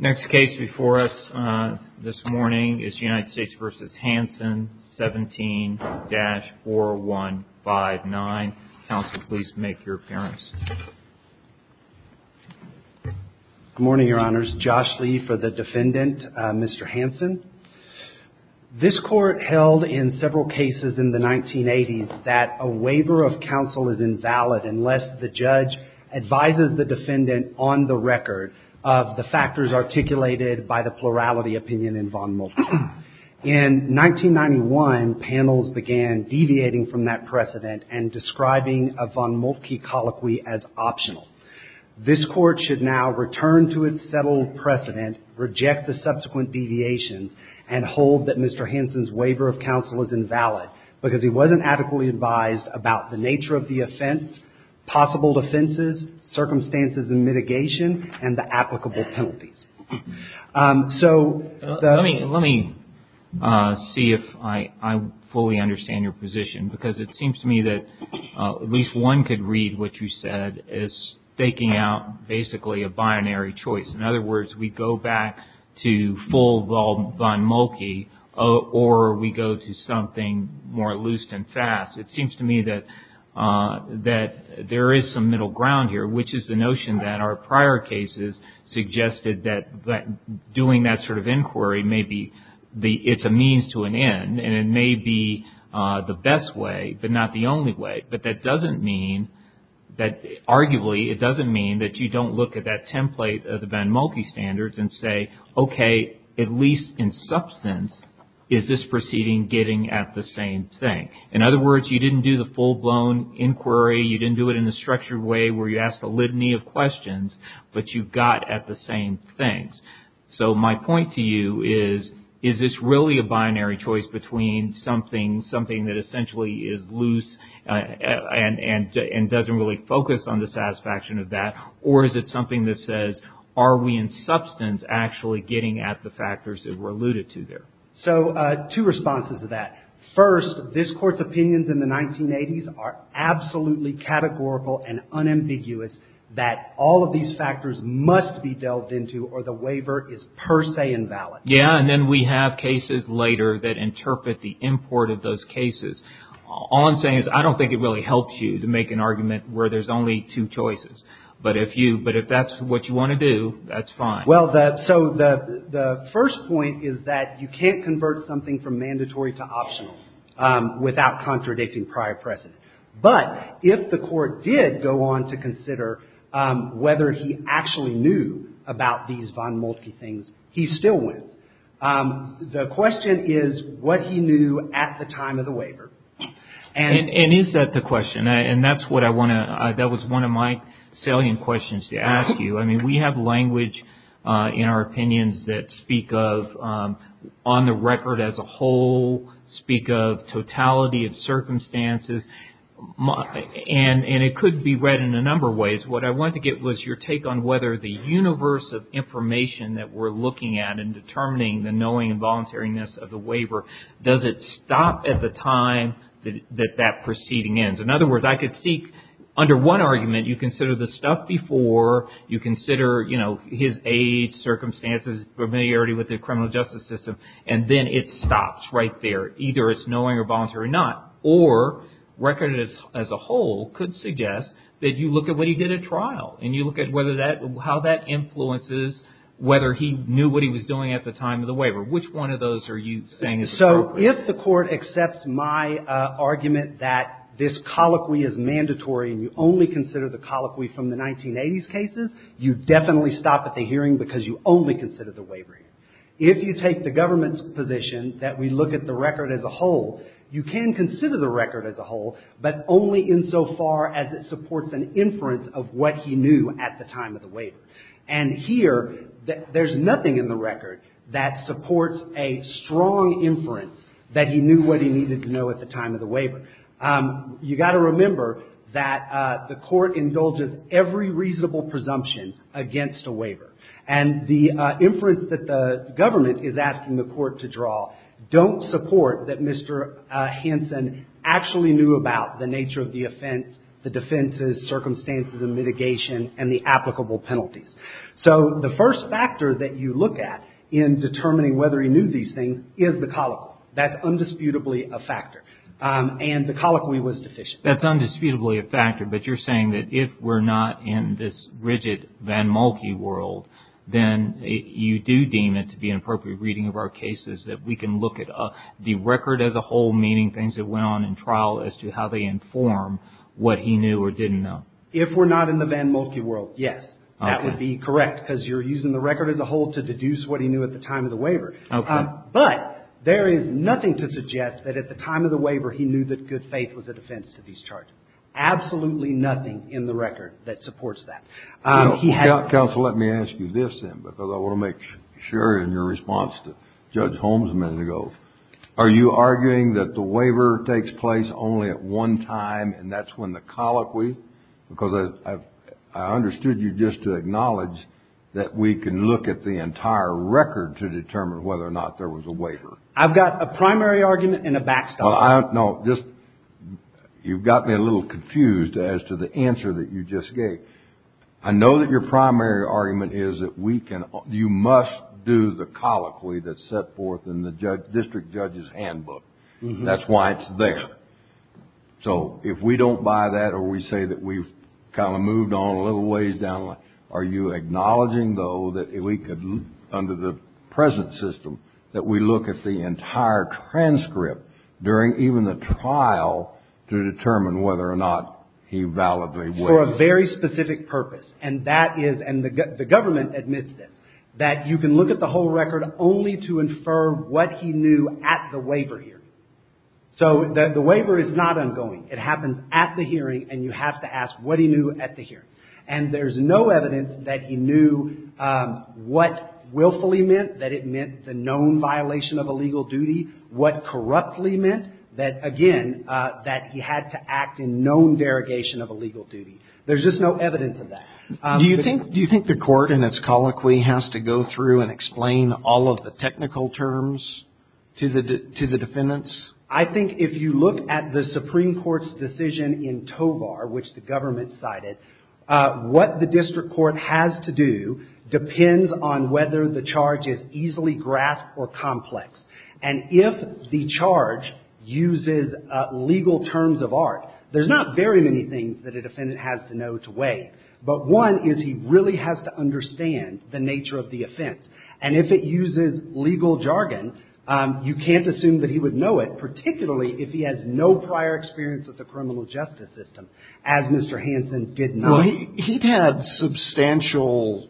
17-4159. Counsel, please make your appearance. Good morning, Your Honors. Josh Lee for the defendant, Mr. Hansen. This court held in several cases in the 1980s that a waiver of counsel is invalid unless the judge advises the defendant on the record of the fact that the defendant is not guilty of the crime. In 1991, panels began deviating from that precedent and describing a von Moltke colloquy as optional. This court should now return to its settled precedent, reject the subsequent deviations, and hold that Mr. Hansen's waiver of counsel is invalid because he wasn't adequately advised about the nature of the offense, possible defenses, circumstances and mitigation, and the applicable penalties. Let me see if I fully understand your position because it seems to me that at least one could read what you said as staking out basically a binary choice. In other words, we go back to full von Moltke or we go to something more loose and fast. It seems to me that there is some middle ground here, which is the notion that our prior cases suggested that the doing that sort of inquiry may be the, it's a means to an end and it may be the best way, but not the only way. But that doesn't mean that, arguably, it doesn't mean that you don't look at that template of the von Moltke standards and say, okay, at least in substance, is this proceeding getting at the same thing? In other words, you didn't do the full-blown inquiry. You didn't do it in a structured way where you asked a litany of questions, but you got at the same thing. And that's what I'm trying to say. So my point to you is, is this really a binary choice between something that essentially is loose and doesn't really focus on the satisfaction of that, or is it something that says, are we in substance actually getting at the factors that were alluded to there? So two responses to that. First, this Court's opinions in the 1980s are absolutely categorical and unambiguous that all of these factors must be dealt into or that all of these factors must be dealt into. So the waiver is per se invalid. Yeah, and then we have cases later that interpret the import of those cases. All I'm saying is I don't think it really helps you to make an argument where there's only two choices. But if that's what you want to do, that's fine. Well, so the first point is that you can't convert something from mandatory to optional without contradicting prior precedent. But if the Court did go on to consider whether he actually knew about these von Moltke things, he still wins. The question is what he knew at the time of the waiver. And is that the question? And that was one of my salient questions to ask you. I mean, we have language in our opinions that speak of on the record as a whole, speak of totality of circumstances, and it could be read in a number of ways. What I wanted to get was your take on whether the universe of information that we're looking at in determining the knowing and voluntariness of the waiver, does it stop at the time that that proceeding ends? In other words, I could see under one argument, you consider the stuff before, you consider, you know, his age, circumstances, familiarity with the criminal justice system, and then it stops right there. Either it's knowing or voluntary or not. Or record as a whole could suggest that you look at what he did at trial, and you look at whether that, how that influences whether he knew what he was doing at the time of the waiver. Which one of those are you saying is appropriate? So if the Court accepts my argument that this colloquy is mandatory and you only consider the colloquy from the 1980s cases, you definitely stop at the hearing because you only consider the waiver. If you take the government's position that we look at the record as a whole, you can consider the record as a whole, but only insofar as it supports an inference of what he knew at the time of the waiver. And here, there's nothing in the record that supports a strong inference that he knew what he needed to know at the time of the waiver. You've got to remember that the Court indulges every reasonable presumption against a waiver. And the inference that the government is asking the Court to draw don't support that Mr. Hansen actually knew about the nature of the offense, the defenses, circumstances and mitigation, and the applicable penalties. So the first factor that you look at in determining whether he knew these things is the colloquy. That's undisputably a factor. And the colloquy was deficient. That's undisputably a factor, but you're saying that if we're not in this rigid VanMolke world, then you do deem it to be an appropriate reading of our cases that we can look at the record as a whole, meaning things that went on in trial as to how they inform what he knew or didn't know. If we're not in the VanMolke world, yes, that would be correct because you're using the record as a whole to deduce what he knew at the time of the waiver. Okay. But there is nothing to suggest that at the time of the waiver he knew that good faith was a defense to these charges. Absolutely nothing in the record that supports that. Counsel, let me ask you this then because I want to make sure in your response to Judge Holmes a minute ago. Are you arguing that the waiver takes place only at one time and that's when the colloquy, because I understood you just to acknowledge that we can look at the entire record to determine whether or not there was a waiver? I've got a primary argument and a back story. You've got me a little confused as to the answer that you just gave. I know that your primary argument is that you must do the colloquy that's set forth in the district judge's handbook. That's why it's there. So if we don't buy that or we say that we've kind of moved on a little ways down the line, are you acknowledging though that we could, under the present system, that we look at the entire transcript during even the trial to determine whether or not he validly waived? For a very specific purpose and that is, and the government admits this, that you can look at the whole record only to infer what he knew at the waiver year. So the waiver is not ongoing. It happens at the hearing and you have to ask what he knew at the hearing. And there's no evidence that he knew what willfully meant, that it meant the known violation of a legal duty, what corruptly meant, that, again, that he had to act in known derogation of a legal duty. There's just no evidence of that. Do you think the court in its colloquy has to go through and explain all of the technical terms to the defendants? I think if you look at the Supreme Court's decision in Tovar, which the government cited, what the district court has to do depends on whether the charge is easily grasped or complex. And if the charge uses legal terms of art, there's not very many things that a defendant has to know to waive. But one is he really has to understand the nature of the offense. And if it uses legal jargon, you can't assume that he would know it, particularly if he has no prior experience with the criminal justice system, as Mr. Hanson did not. He had substantial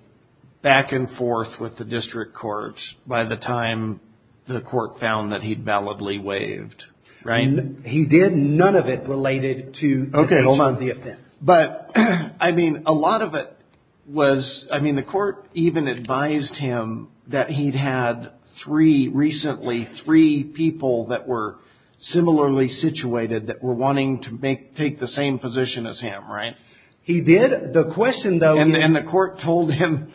back and forth with the district courts by the time the court found that he'd validly waived, right? He did none of it related to the nature of the offense. But, I mean, a lot of it was, I mean, the court even advised him that he'd had three, recently, three people that were similarly situated that were wanting to take the same position as him, right? He did. The question, though... And the court told him...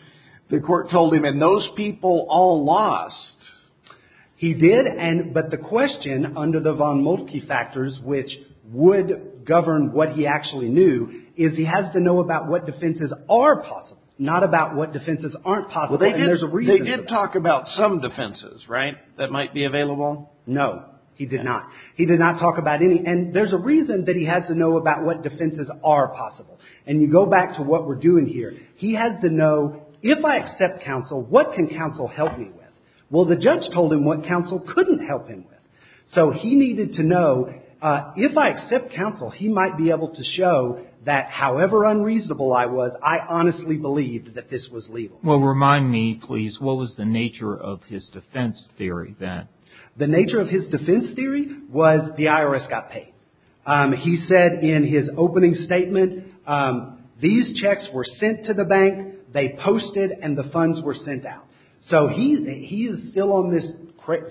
The court told him, and those people all lost. He did, but the question, under the von Moltke factors, which would govern what he actually knew, is he has to know about what defenses are possible, not about what defenses aren't possible. And there's a reason... Well, they did talk about some defenses, right, that might be available? No, he did not. He did not talk about any. And there's a reason that he has to know about what defenses are possible. And you go back to what we're doing here. He has to know, if I accept counsel, what can counsel help me with? Well, the judge told him what counsel couldn't help him with. So, he needed to know, if I accept counsel, he might be able to show that, however unreasonable I was, I honestly believed that this was legal. Well, remind me, please, what was the nature of his defense theory then? The nature of his defense theory was the IRS got paid. He said in his opening statement, these checks were sent to the bank, they posted, and the funds were sent out. So, he is still on this,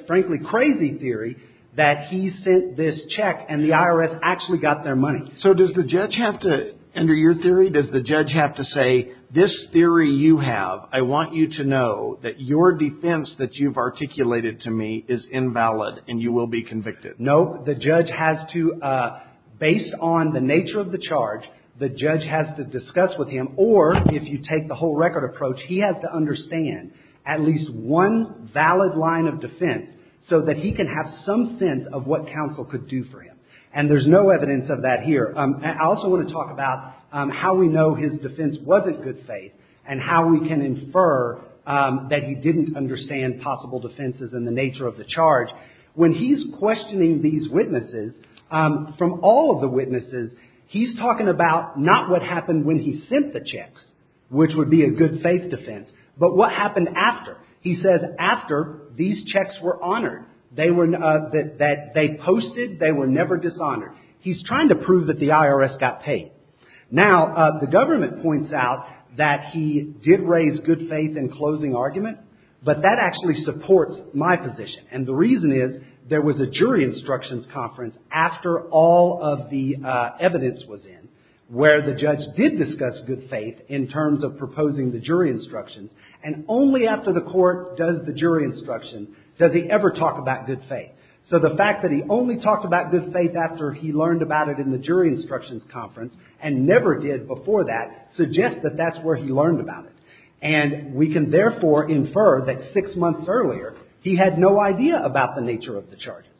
frankly, crazy theory that he sent this check and the IRS actually got their money. So, does the judge have to, under your theory, does the judge have to say, this theory you have, I want you to know that your defense that you've articulated to me is invalid and you will be convicted? No, the judge has to, based on the nature of the charge, the judge has to discuss with him, or, if you take the whole record approach, he has to understand at least one valid line of defense so that he can have some sense of what counsel could do for him. And there's no evidence of that here. I also want to talk about how we know his defense wasn't good faith and how we can infer that he didn't understand possible defenses and the nature of the charge. When he's questioning these witnesses, from all of the witnesses, he's talking about not what happened when he sent the checks, which would be a good faith defense, but what happened after. He says after these checks were honored, that they posted, they were never dishonored. He's trying to prove that the IRS got paid. Now, the government points out that he did raise good faith in closing argument, but that actually supports my position. And the reason is there was a jury instructions conference after all of the evidence was in where the judge did discuss good faith in terms of proposing the jury instructions, and only after the court does the jury instruction does he ever talk about good faith. So the fact that he only talked about good faith after he learned about it in the jury instructions conference and never did before that suggests that that's where he learned about it. And we can therefore infer that six months earlier he had no idea about the nature of the charges.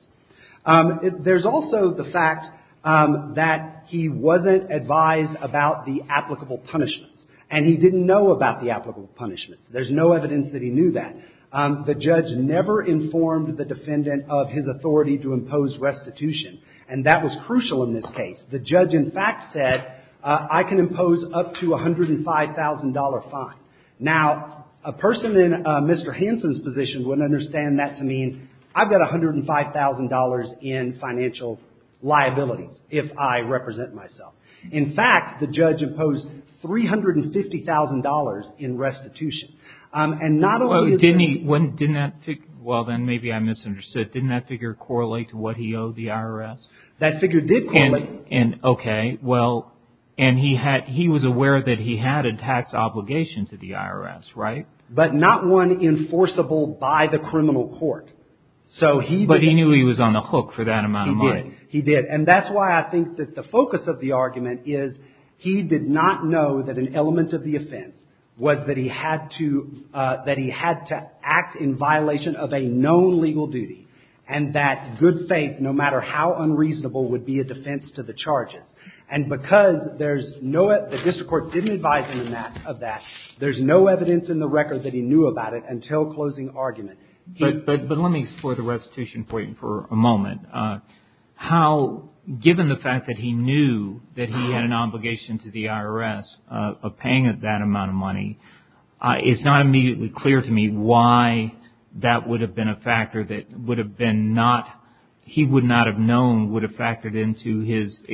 There's also the fact that he wasn't advised about the applicable punishments, and he didn't know about the applicable punishments. There's no evidence that he knew that. The judge never informed the defendant of his authority to impose restitution, and that was crucial in this case. The judge, in fact, said I can impose up to a $105,000 fine. Now, a person in Mr. Hansen's position wouldn't understand that to mean I've got $105,000 in financial liability if I represent myself. In fact, the judge imposed $350,000 in restitution. And not only is there – Well, didn't he – didn't that – well, then maybe I misunderstood. That figure did correlate. And, okay, well, and he had – he was aware that he had a tax obligation to the IRS, right? But not one enforceable by the criminal court. So he – But he knew he was on the hook for that amount of money. He did. He did. And that's why I think that the focus of the argument is he did not know that an element of the offense was that he had to – and that good faith, no matter how unreasonable, would be a defense to the charges. And because there's no – the district court didn't advise him of that, there's no evidence in the record that he knew about it until closing argument. But let me explore the restitution point for a moment. How, given the fact that he knew that he had an obligation to the IRS of paying that amount of money, it's not immediately clear to me why that would have been a factor that would have been not – he would not have known would have factored into his –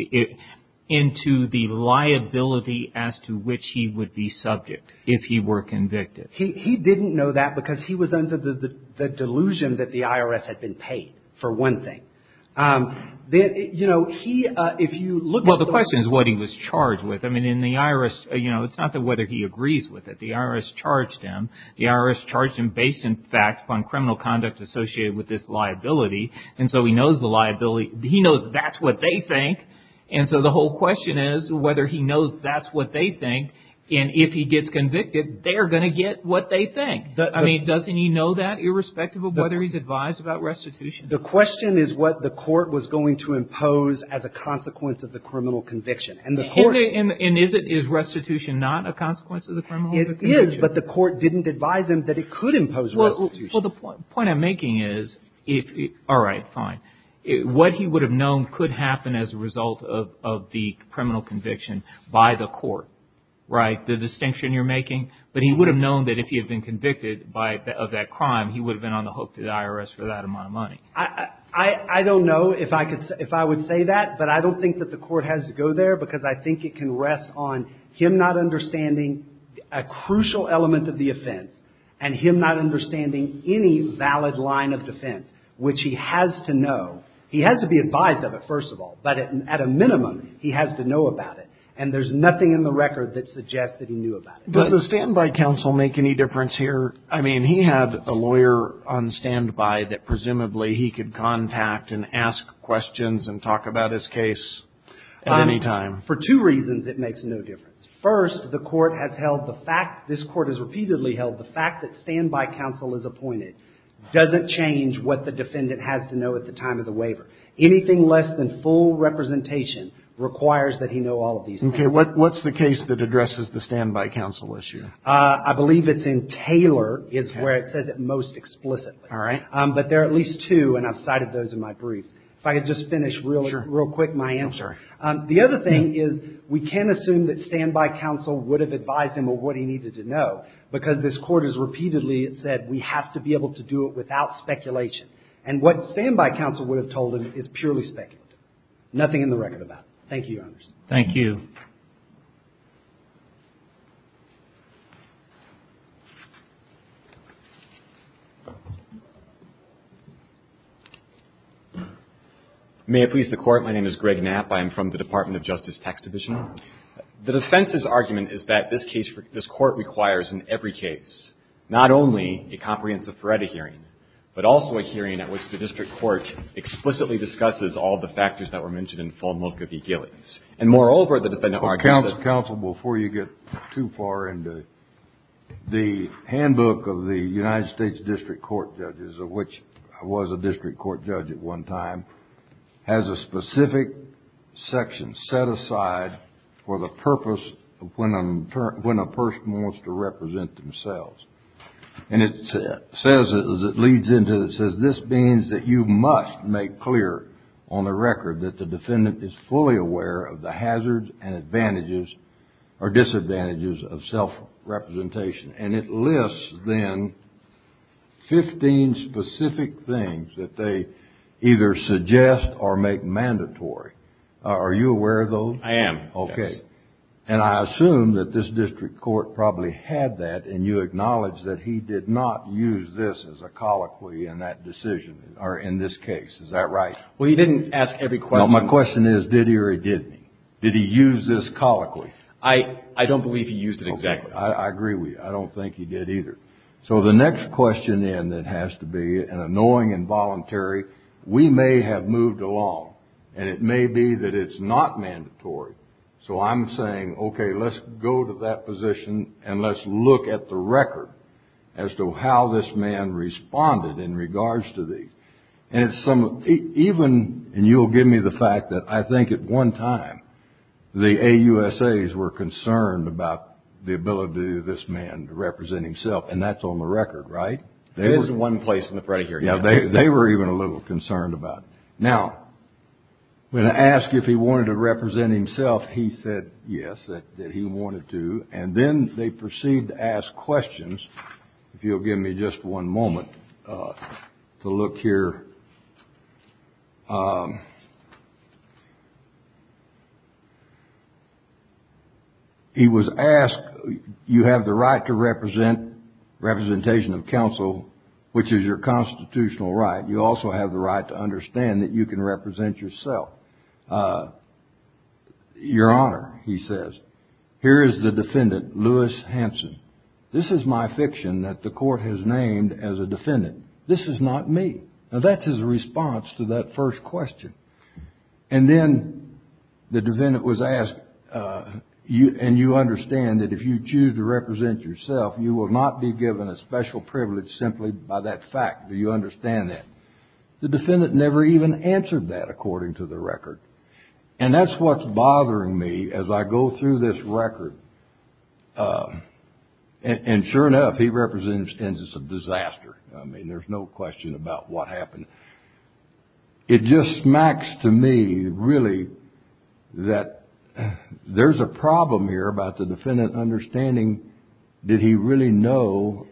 into the liability as to which he would be subject if he were convicted. He didn't know that because he was under the delusion that the IRS had been paid, for one thing. You know, he – if you look at the – Well, the question is what he was charged with. I mean, in the IRS, you know, it's not that whether he agrees with it. The IRS charged him. The IRS charged him based, in fact, on criminal conduct associated with this liability. And so he knows the liability. He knows that's what they think. And so the whole question is whether he knows that's what they think. And if he gets convicted, they're going to get what they think. I mean, doesn't he know that irrespective of whether he's advised about restitution? The question is what the court was going to impose as a consequence of the criminal conviction. And the court – And is it – is restitution not a consequence of the criminal conviction? It is, but the court didn't advise him that it could impose restitution. Well, the point I'm making is if – all right, fine. What he would have known could happen as a result of the criminal conviction by the court, right, the distinction you're making. But he would have known that if he had been convicted by – of that crime, he would have been on the hook to the IRS for that amount of money. I don't know if I could – if I would say that. But I don't think that the court has to go there because I think it can rest on him not understanding a crucial element of the offense and him not understanding any valid line of defense, which he has to know. He has to be advised of it, first of all. But at a minimum, he has to know about it. And there's nothing in the record that suggests that he knew about it. Does the standby counsel make any difference here? I mean, he had a lawyer on standby that presumably he could contact and ask questions and talk about his case at any time. For two reasons it makes no difference. First, the court has held the fact – this court has repeatedly held the fact that standby counsel is appointed doesn't change what the defendant has to know at the time of the waiver. Anything less than full representation requires that he know all of these things. Okay. What's the case that addresses the standby counsel issue? I believe it's in Taylor is where it says it most explicitly. All right. But there are at least two, and I've cited those in my brief. If I could just finish real quick my answer. Sure. The other thing is we can assume that standby counsel would have advised him of what he needed to know because this court has repeatedly said we have to be able to do it without speculation. And what standby counsel would have told him is purely speculative. Nothing in the record about it. Thank you, Your Honors. Thank you. Thank you. May it please the Court. My name is Greg Knapp. I am from the Department of Justice Tax Division. The defense's argument is that this case – this court requires in every case not only a comprehensive Feretta hearing, but also a hearing at which the district court explicitly discusses all the factors that were mentioned in full milk of the ghillies. And moreover, the defendant argued that – Counsel, before you get too far into it, the handbook of the United States district court judges, of which I was a district court judge at one time, has a specific section set aside for the purpose of when a person wants to represent themselves. And it says, as it leads into it, it says this means that you must make clear on the record that the defendant is fully aware of the hazards and advantages or disadvantages of self-representation. And it lists, then, 15 specific things that they either suggest or make mandatory. Are you aware of those? I am. Okay. And I assume that this district court probably had that, and you acknowledge that he did not use this as a colloquy in that decision, or in this case. Is that right? Well, he didn't ask every question. No, my question is, did he or he didn't? Did he use this colloquy? I don't believe he used it exactly. Okay, I agree with you. I don't think he did either. So the next question then that has to be, and annoying and voluntary, we may have moved along, and it may be that it's not mandatory. So I'm saying, okay, let's go to that position, and let's look at the record as to how this man responded in regards to these. And it's some, even, and you'll give me the fact that I think at one time the AUSAs were concerned about the ability of this man to represent himself, and that's on the record, right? It is in one place in the predicate. Yeah, they were even a little concerned about it. Now, when asked if he wanted to represent himself, he said yes, that he wanted to, and then they proceeded to ask questions, if you'll give me just one moment to look here. He was asked, you have the right to represent, representation of counsel, which is your constitutional right. You also have the right to understand that you can represent yourself. Your Honor, he says, here is the defendant, Lewis Hanson. This is my fiction that the court has named as a defendant. This is not me. Now, that's his response to that first question. And then the defendant was asked, and you understand that if you choose to represent yourself, you will not be given a special privilege simply by that fact. Do you understand that? The defendant never even answered that, according to the record. And that's what's bothering me as I go through this record. And sure enough, he represents instances of disaster. I mean, there's no question about what happened. It just smacks to me, really, that there's a problem here about the defendant understanding, did he really know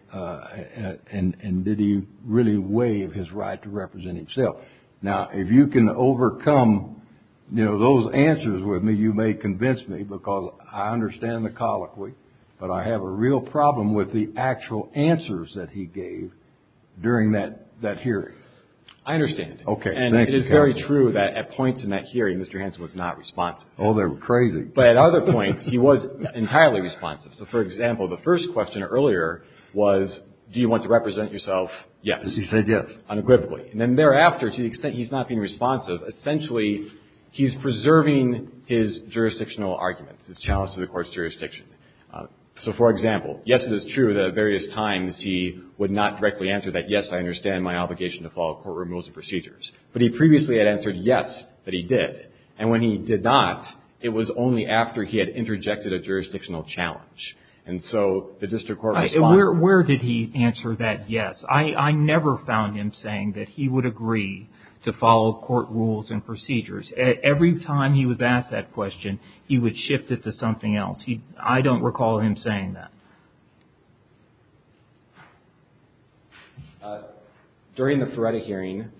and did he really waive his right to represent himself? Now, if you can overcome, you know, those answers with me, you may convince me, because I understand the colloquy, but I have a real problem with the actual answers that he gave during that hearing. I understand. Okay. And it is very true that at points in that hearing, Mr. Hanson was not responsive. Oh, they were crazy. But at other points, he was entirely responsive. So, for example, the first question earlier was, do you want to represent yourself? Yes. Because he said yes. Unequivocally. And then thereafter, to the extent he's not being responsive, essentially he's preserving his jurisdictional arguments, his challenge to the court's jurisdiction. So, for example, yes, it is true that at various times he would not directly answer that, yes, I understand my obligation to follow courtroom rules and procedures. But he previously had answered, yes, that he did. And when he did not, it was only after he had interjected a jurisdictional challenge. And so the district court responded. Where did he answer that yes? I never found him saying that he would agree to follow court rules and procedures. Every time he was asked that question, he would shift it to something else. I don't recall him saying that. During the Feretta hearing,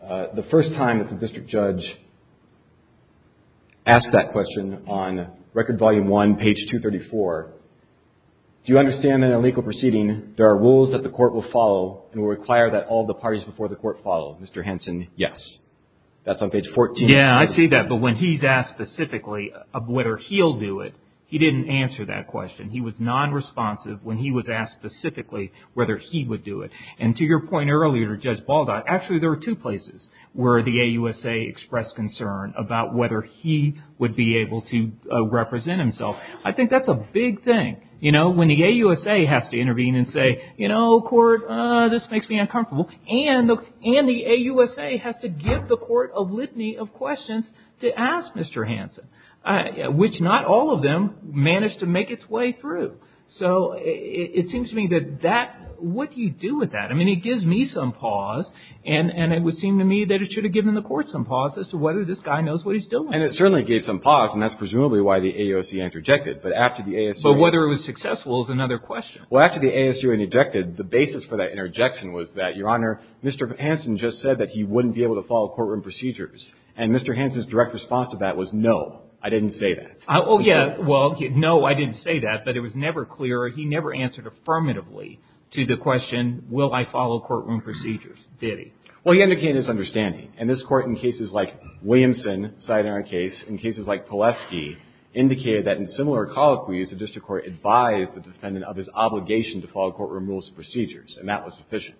the first time that the district judge asked that question on Record Volume 1, page 234, do you understand that in a legal proceeding there are rules that the court will follow and will require that all the parties before the court follow? Mr. Hanson, yes. That's on page 14. Yes, I see that. But when he's asked specifically whether he'll do it, he didn't answer that question. He was nonresponsive when he was asked specifically whether he would do it. And to your point earlier, Judge Baldot, actually there are two places where the AUSA expressed concern about whether he would be able to represent himself. I think that's a big thing. You know, when the AUSA has to intervene and say, you know, court, this makes me uncomfortable, and the AUSA has to give the court a litany of questions to ask Mr. Hanson, which not all of them managed to make its way through. So it seems to me that that – what do you do with that? I mean, he gives me some pause, and it would seem to me that it should have given the court some pause as to whether this guy knows what he's doing. And it certainly gave some pause, and that's presumably why the AUSA interjected. But after the ASU – But whether it was successful is another question. Well, after the ASU interjected, the basis for that interjection was that, Your Honor, Mr. Hanson just said that he wouldn't be able to follow courtroom procedures. And Mr. Hanson's direct response to that was, no, I didn't say that. Oh, yeah. Well, no, I didn't say that. But it was never clear, or he never answered affirmatively to the question, will I follow courtroom procedures, did he? Well, he indicated his understanding. And this Court, in cases like Williamson, a citing our case, in cases like Pilevsky, indicated that in similar colloquies, the district court advised the defendant of his obligation to follow courtroom rules and procedures. And that was sufficient.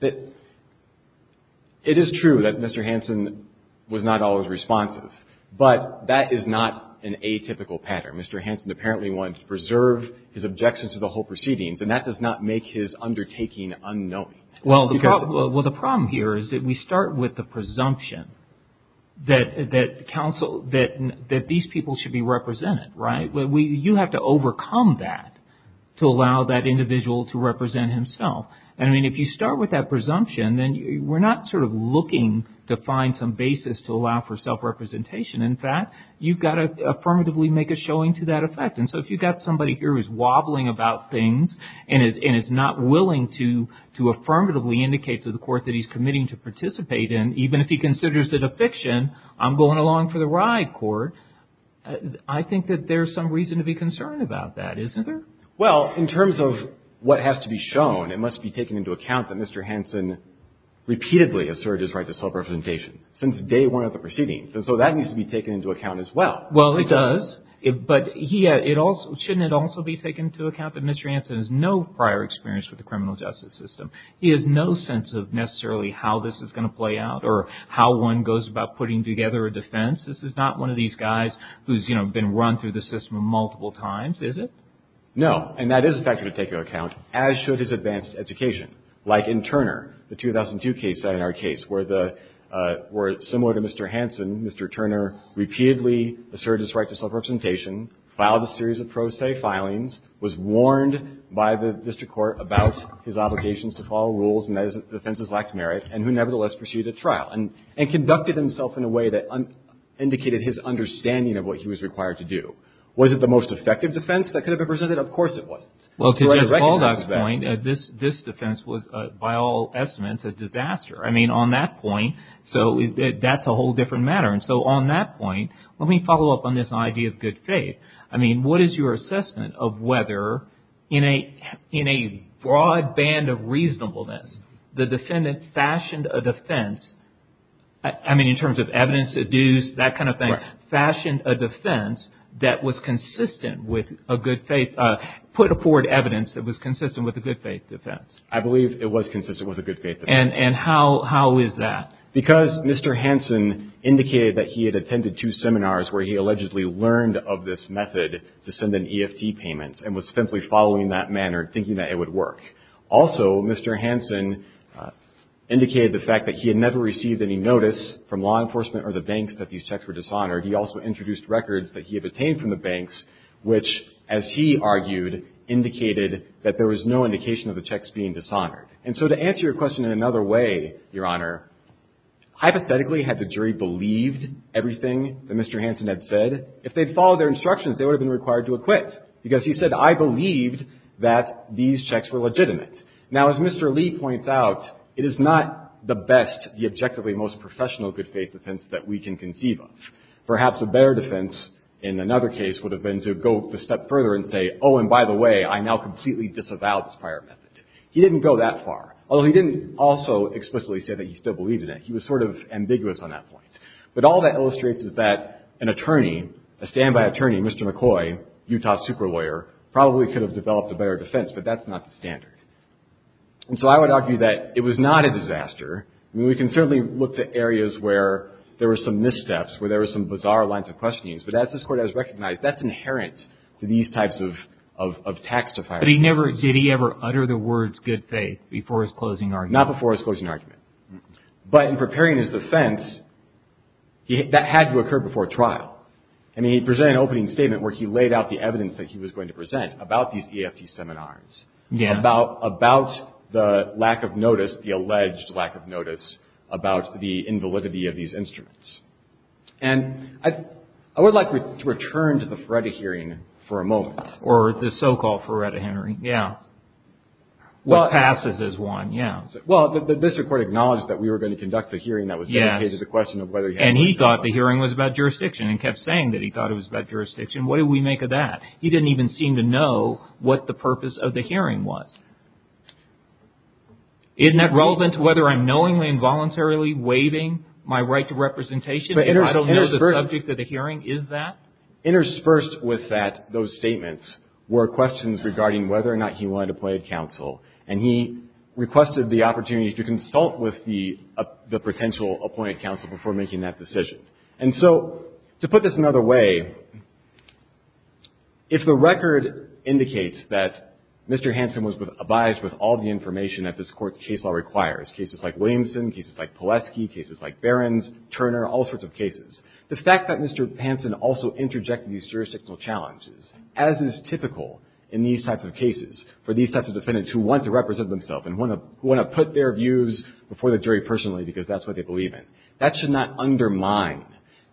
It is true that Mr. Hanson was not always responsive, but that is not an atypical pattern. Mr. Hanson apparently wanted to preserve his objection to the whole proceedings, and that does not make his undertaking unknowing. Well, the problem here is that we start with the presumption that counsel – that these people should be represented, right? You have to overcome that to allow that individual to represent himself. And, I mean, if you start with that presumption, then we're not sort of looking to find some basis to allow for self-representation. In fact, you've got to affirmatively make a showing to that effect. And so if you've got somebody here who's wobbling about things and is not willing to affirmatively indicate to the court that he's committing to participate in, even if he considers it a fiction, I'm going along for the ride, court, I think that there's some reason to be concerned about that, isn't there? Well, in terms of what has to be shown, it must be taken into account that Mr. Hanson repeatedly asserted his right to self-representation since day one of the proceedings. And so that needs to be taken into account as well. Well, it does. But shouldn't it also be taken into account that Mr. Hanson has no prior experience with the criminal justice system? He has no sense of necessarily how this is going to play out or how one goes about putting together a defense? This is not one of these guys who's, you know, been run through the system multiple times, is it? No. And that is a factor to take into account, as should his advanced education. Like in Turner, the 2002 case, in our case, where the – where, similar to Mr. Hanson, Mr. Turner repeatedly asserted his right to self-representation, filed a series of pro se filings, was warned by the district court about his obligations to follow rules and that his defenses lacked merit, and who nevertheless pursued a trial and conducted himself in a way that indicated his understanding of what he was required to do. Was it the most effective defense that could have been presented? Of course it wasn't. Well, to Jeff Baldock's point, this defense was, by all estimates, a disaster. I mean, on that point, so that's a whole different matter. And so on that point, let me follow up on this idea of good faith. I mean, what is your assessment of whether, in a broad band of reasonableness, the defendant fashioned a defense – I mean, in terms of evidence, aduce, that kind of thing – fashioned a defense that was consistent with a good faith – put forward evidence that was consistent with a good faith defense? I believe it was consistent with a good faith defense. And how is that? Because Mr. Hansen indicated that he had attended two seminars where he allegedly learned of this method to send in EFT payments and was simply following that manner, thinking that it would work. Also, Mr. Hansen indicated the fact that he had never received any notice from law enforcement or the banks that these checks were dishonored. He also introduced records that he had obtained from the banks, which, as he argued, indicated that there was no indication of the checks being dishonored. And so to answer your question in another way, Your Honor, hypothetically, had the jury believed everything that Mr. Hansen had said, if they'd followed their instructions, they would have been required to acquit because he said, I believed that these checks were legitimate. Now, as Mr. Lee points out, it is not the best, the objectively most professional good faith defense that we can conceive of. Perhaps a better defense in another case would have been to go a step further and say, oh, and by the way, I now completely disavow this prior method. He didn't go that far, although he didn't also explicitly say that he still believed in it. He was sort of ambiguous on that point. But all that illustrates is that an attorney, a standby attorney, Mr. McCoy, Utah super lawyer, probably could have developed a better defense, but that's not the standard. And so I would argue that it was not a disaster. I mean, we can certainly look to areas where there were some missteps, where there were some bizarre lines of questioning, but as this Court has recognized, that's inherent to these types of tax defiers. But he never, did he ever utter the words good faith before his closing argument? Not before his closing argument. But in preparing his defense, that had to occur before trial. I mean, he presented an opening statement where he laid out the evidence that he was going to present about these EFT seminars, about the lack of notice, the alleged lack of notice, about the invalidity of these instruments. And I would like to return to the Feretta hearing for a moment. Or the so-called Feretta hearing, yeah. What passes as one, yeah. Well, the district court acknowledged that we were going to conduct a hearing that was going to raise the question of whether he had... And he thought the hearing was about jurisdiction and kept saying that he thought it was about jurisdiction. What did we make of that? He didn't even seem to know what the purpose of the hearing was. Isn't that relevant to whether I'm knowingly and voluntarily waiving my right to representation? I don't know the subject of the hearing. Is that? And so what he did was he interspersed with that those statements were questions regarding whether or not he wanted to appoint counsel. And he requested the opportunity to consult with the potential appointed counsel before making that decision. And so to put this another way, if the record indicates that Mr. Hanson was advised with all the information that this court's case law requires, cases like Williamson, cases like Polesky, cases like Behrens, Turner, all sorts of cases, the fact that Mr. Hanson also interjected these jurisdictional challenges, as is typical in these types of cases for these types of defendants who want to represent themselves and want to put their views before the jury personally because that's what they believe in, that should not undermine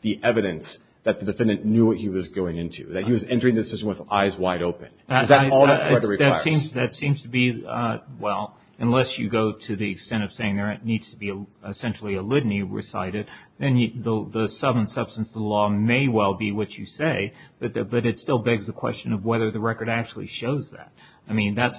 the evidence that the defendant knew what he was going into, that he was entering the decision with eyes wide open. Is that all that the record requires? That seems to be, well, unless you go to the extent of saying there needs to be essentially a litany recited, then the substance of the law may well be what you say, but it still begs the question of whether the record actually shows that. I mean, that's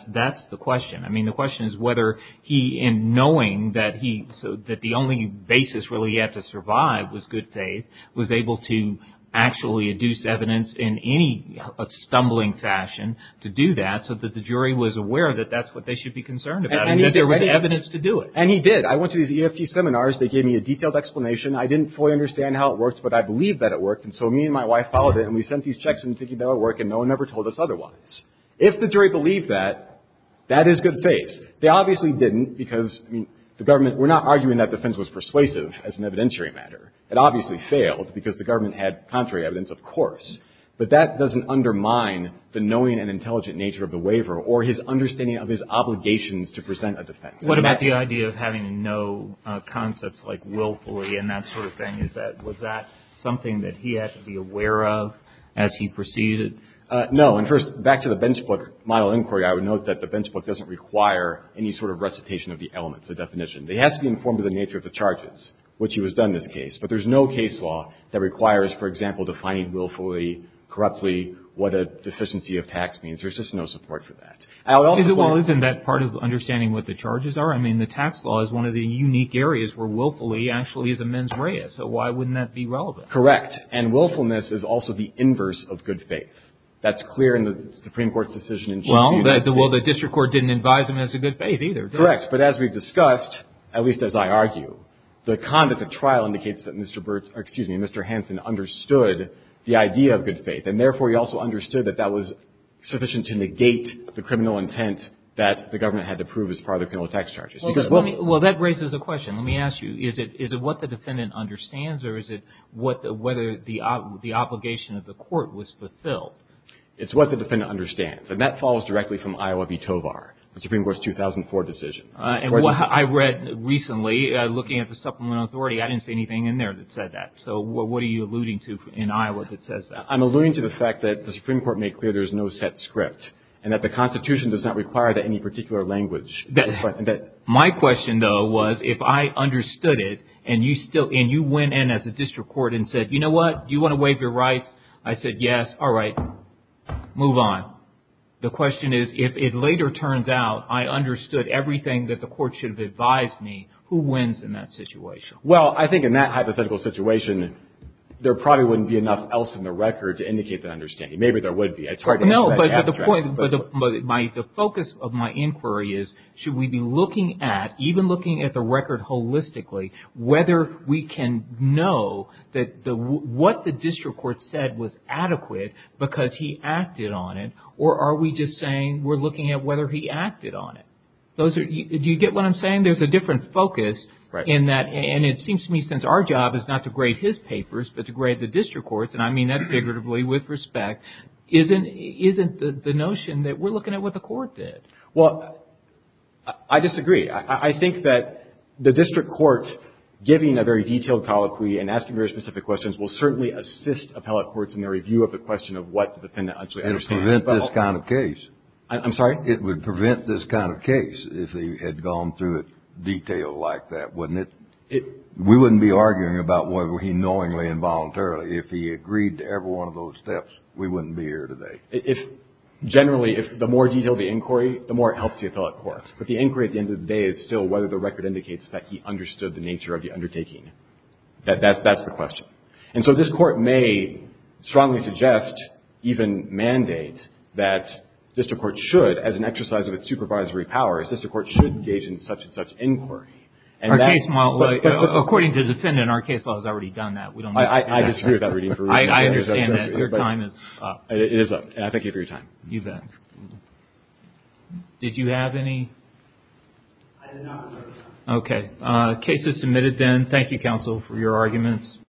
the question. I mean, the question is whether he, in knowing that the only basis really yet to survive was good faith, was able to actually induce evidence in any stumbling fashion to do that so that the jury was aware that that's what they should be concerned about and that there was evidence to do it. And he did. I went to these EFT seminars. They gave me a detailed explanation. I didn't fully understand how it worked, but I believed that it worked, and so me and my wife followed it and we sent these checks in thinking that it worked and no one ever told us otherwise. If the jury believed that, that is good faith. They obviously didn't because, I mean, the government, we're not arguing that defense was persuasive as an evidentiary matter. It obviously failed because the government had contrary evidence, of course, but that doesn't undermine the knowing and intelligent nature of the waiver or his understanding of his obligations to present a defense. What about the idea of having no concepts like willfully and that sort of thing? Was that something that he had to be aware of as he proceeded? No. And first, back to the bench book model inquiry, I would note that the bench book doesn't require any sort of recitation of the elements, the definition. It has to be informed of the nature of the charges, which he was done in this case, but there's no case law that requires, for example, defining willfully, corruptly, what a deficiency of tax means. There's just no support for that. Well, isn't that part of understanding what the charges are? I mean, the tax law is one of the unique areas where willfully actually is a mens rea. So why wouldn't that be relevant? Correct. And willfulness is also the inverse of good faith. That's clear in the Supreme Court's decision. Well, the district court didn't advise him as a good faith either. Correct. But as we've discussed, at least as I argue, the conduct of trial indicates that Mr. Burts, or excuse me, Mr. Hansen, understood the idea of good faith, and therefore he also understood that that was sufficient to negate the criminal intent that the government had to prove as part of the criminal tax charges. Well, that raises a question. Let me ask you. Is it what the defendant understands, or is it whether the obligation of the court was fulfilled? It's what the defendant understands, and that follows directly from Iowa v. Tovar, the Supreme Court's 2004 decision. I read recently, looking at the supplemental authority, I didn't see anything in there that said that. So what are you alluding to in Iowa that says that? I'm alluding to the fact that the Supreme Court made clear there's no set script and that the Constitution does not require any particular language. My question, though, was if I understood it and you went in as a district court and said, you know what, do you want to waive your rights? I said, yes. All right. Move on. The question is, if it later turns out I understood everything that the court should have advised me, who wins in that situation? Well, I think in that hypothetical situation, there probably wouldn't be enough else in the record to indicate that understanding. Maybe there would be. No, but the point, the focus of my inquiry is, should we be looking at, even looking at the record holistically, whether we can know that what the district court said was adequate because he acted on it, or are we just saying we're looking at whether he acted on it? Do you get what I'm saying? There's a different focus in that, and it seems to me since our job is not to grade his papers but to grade the district courts, and I mean that figuratively with respect, isn't the notion that we're looking at what the court did. Well, I disagree. I think that the district court giving a very detailed colloquy and asking very specific questions will certainly assist appellate courts in their review of the question of what the defendant actually understood. It would prevent this kind of case. I'm sorry? It would prevent this kind of case if they had gone through it detailed like that, wouldn't it? We wouldn't be arguing about whether he knowingly and voluntarily, if he agreed to every one of those steps, we wouldn't be here today. Generally, the more detailed the inquiry, the more it helps the appellate court. But the inquiry at the end of the day is still whether the record indicates that he understood the nature of the undertaking. That's the question. And so this court may strongly suggest, even mandate, that district courts should, as an exercise of its supervisory power, district courts should engage in such and such inquiry. According to the defendant, our case law has already done that. I disagree with that reading. I understand that. Your time is up. It is up. And I thank you for your time. You bet. Did you have any? I did not. Okay. Case is submitted then. Thank you, counsel, for your arguments.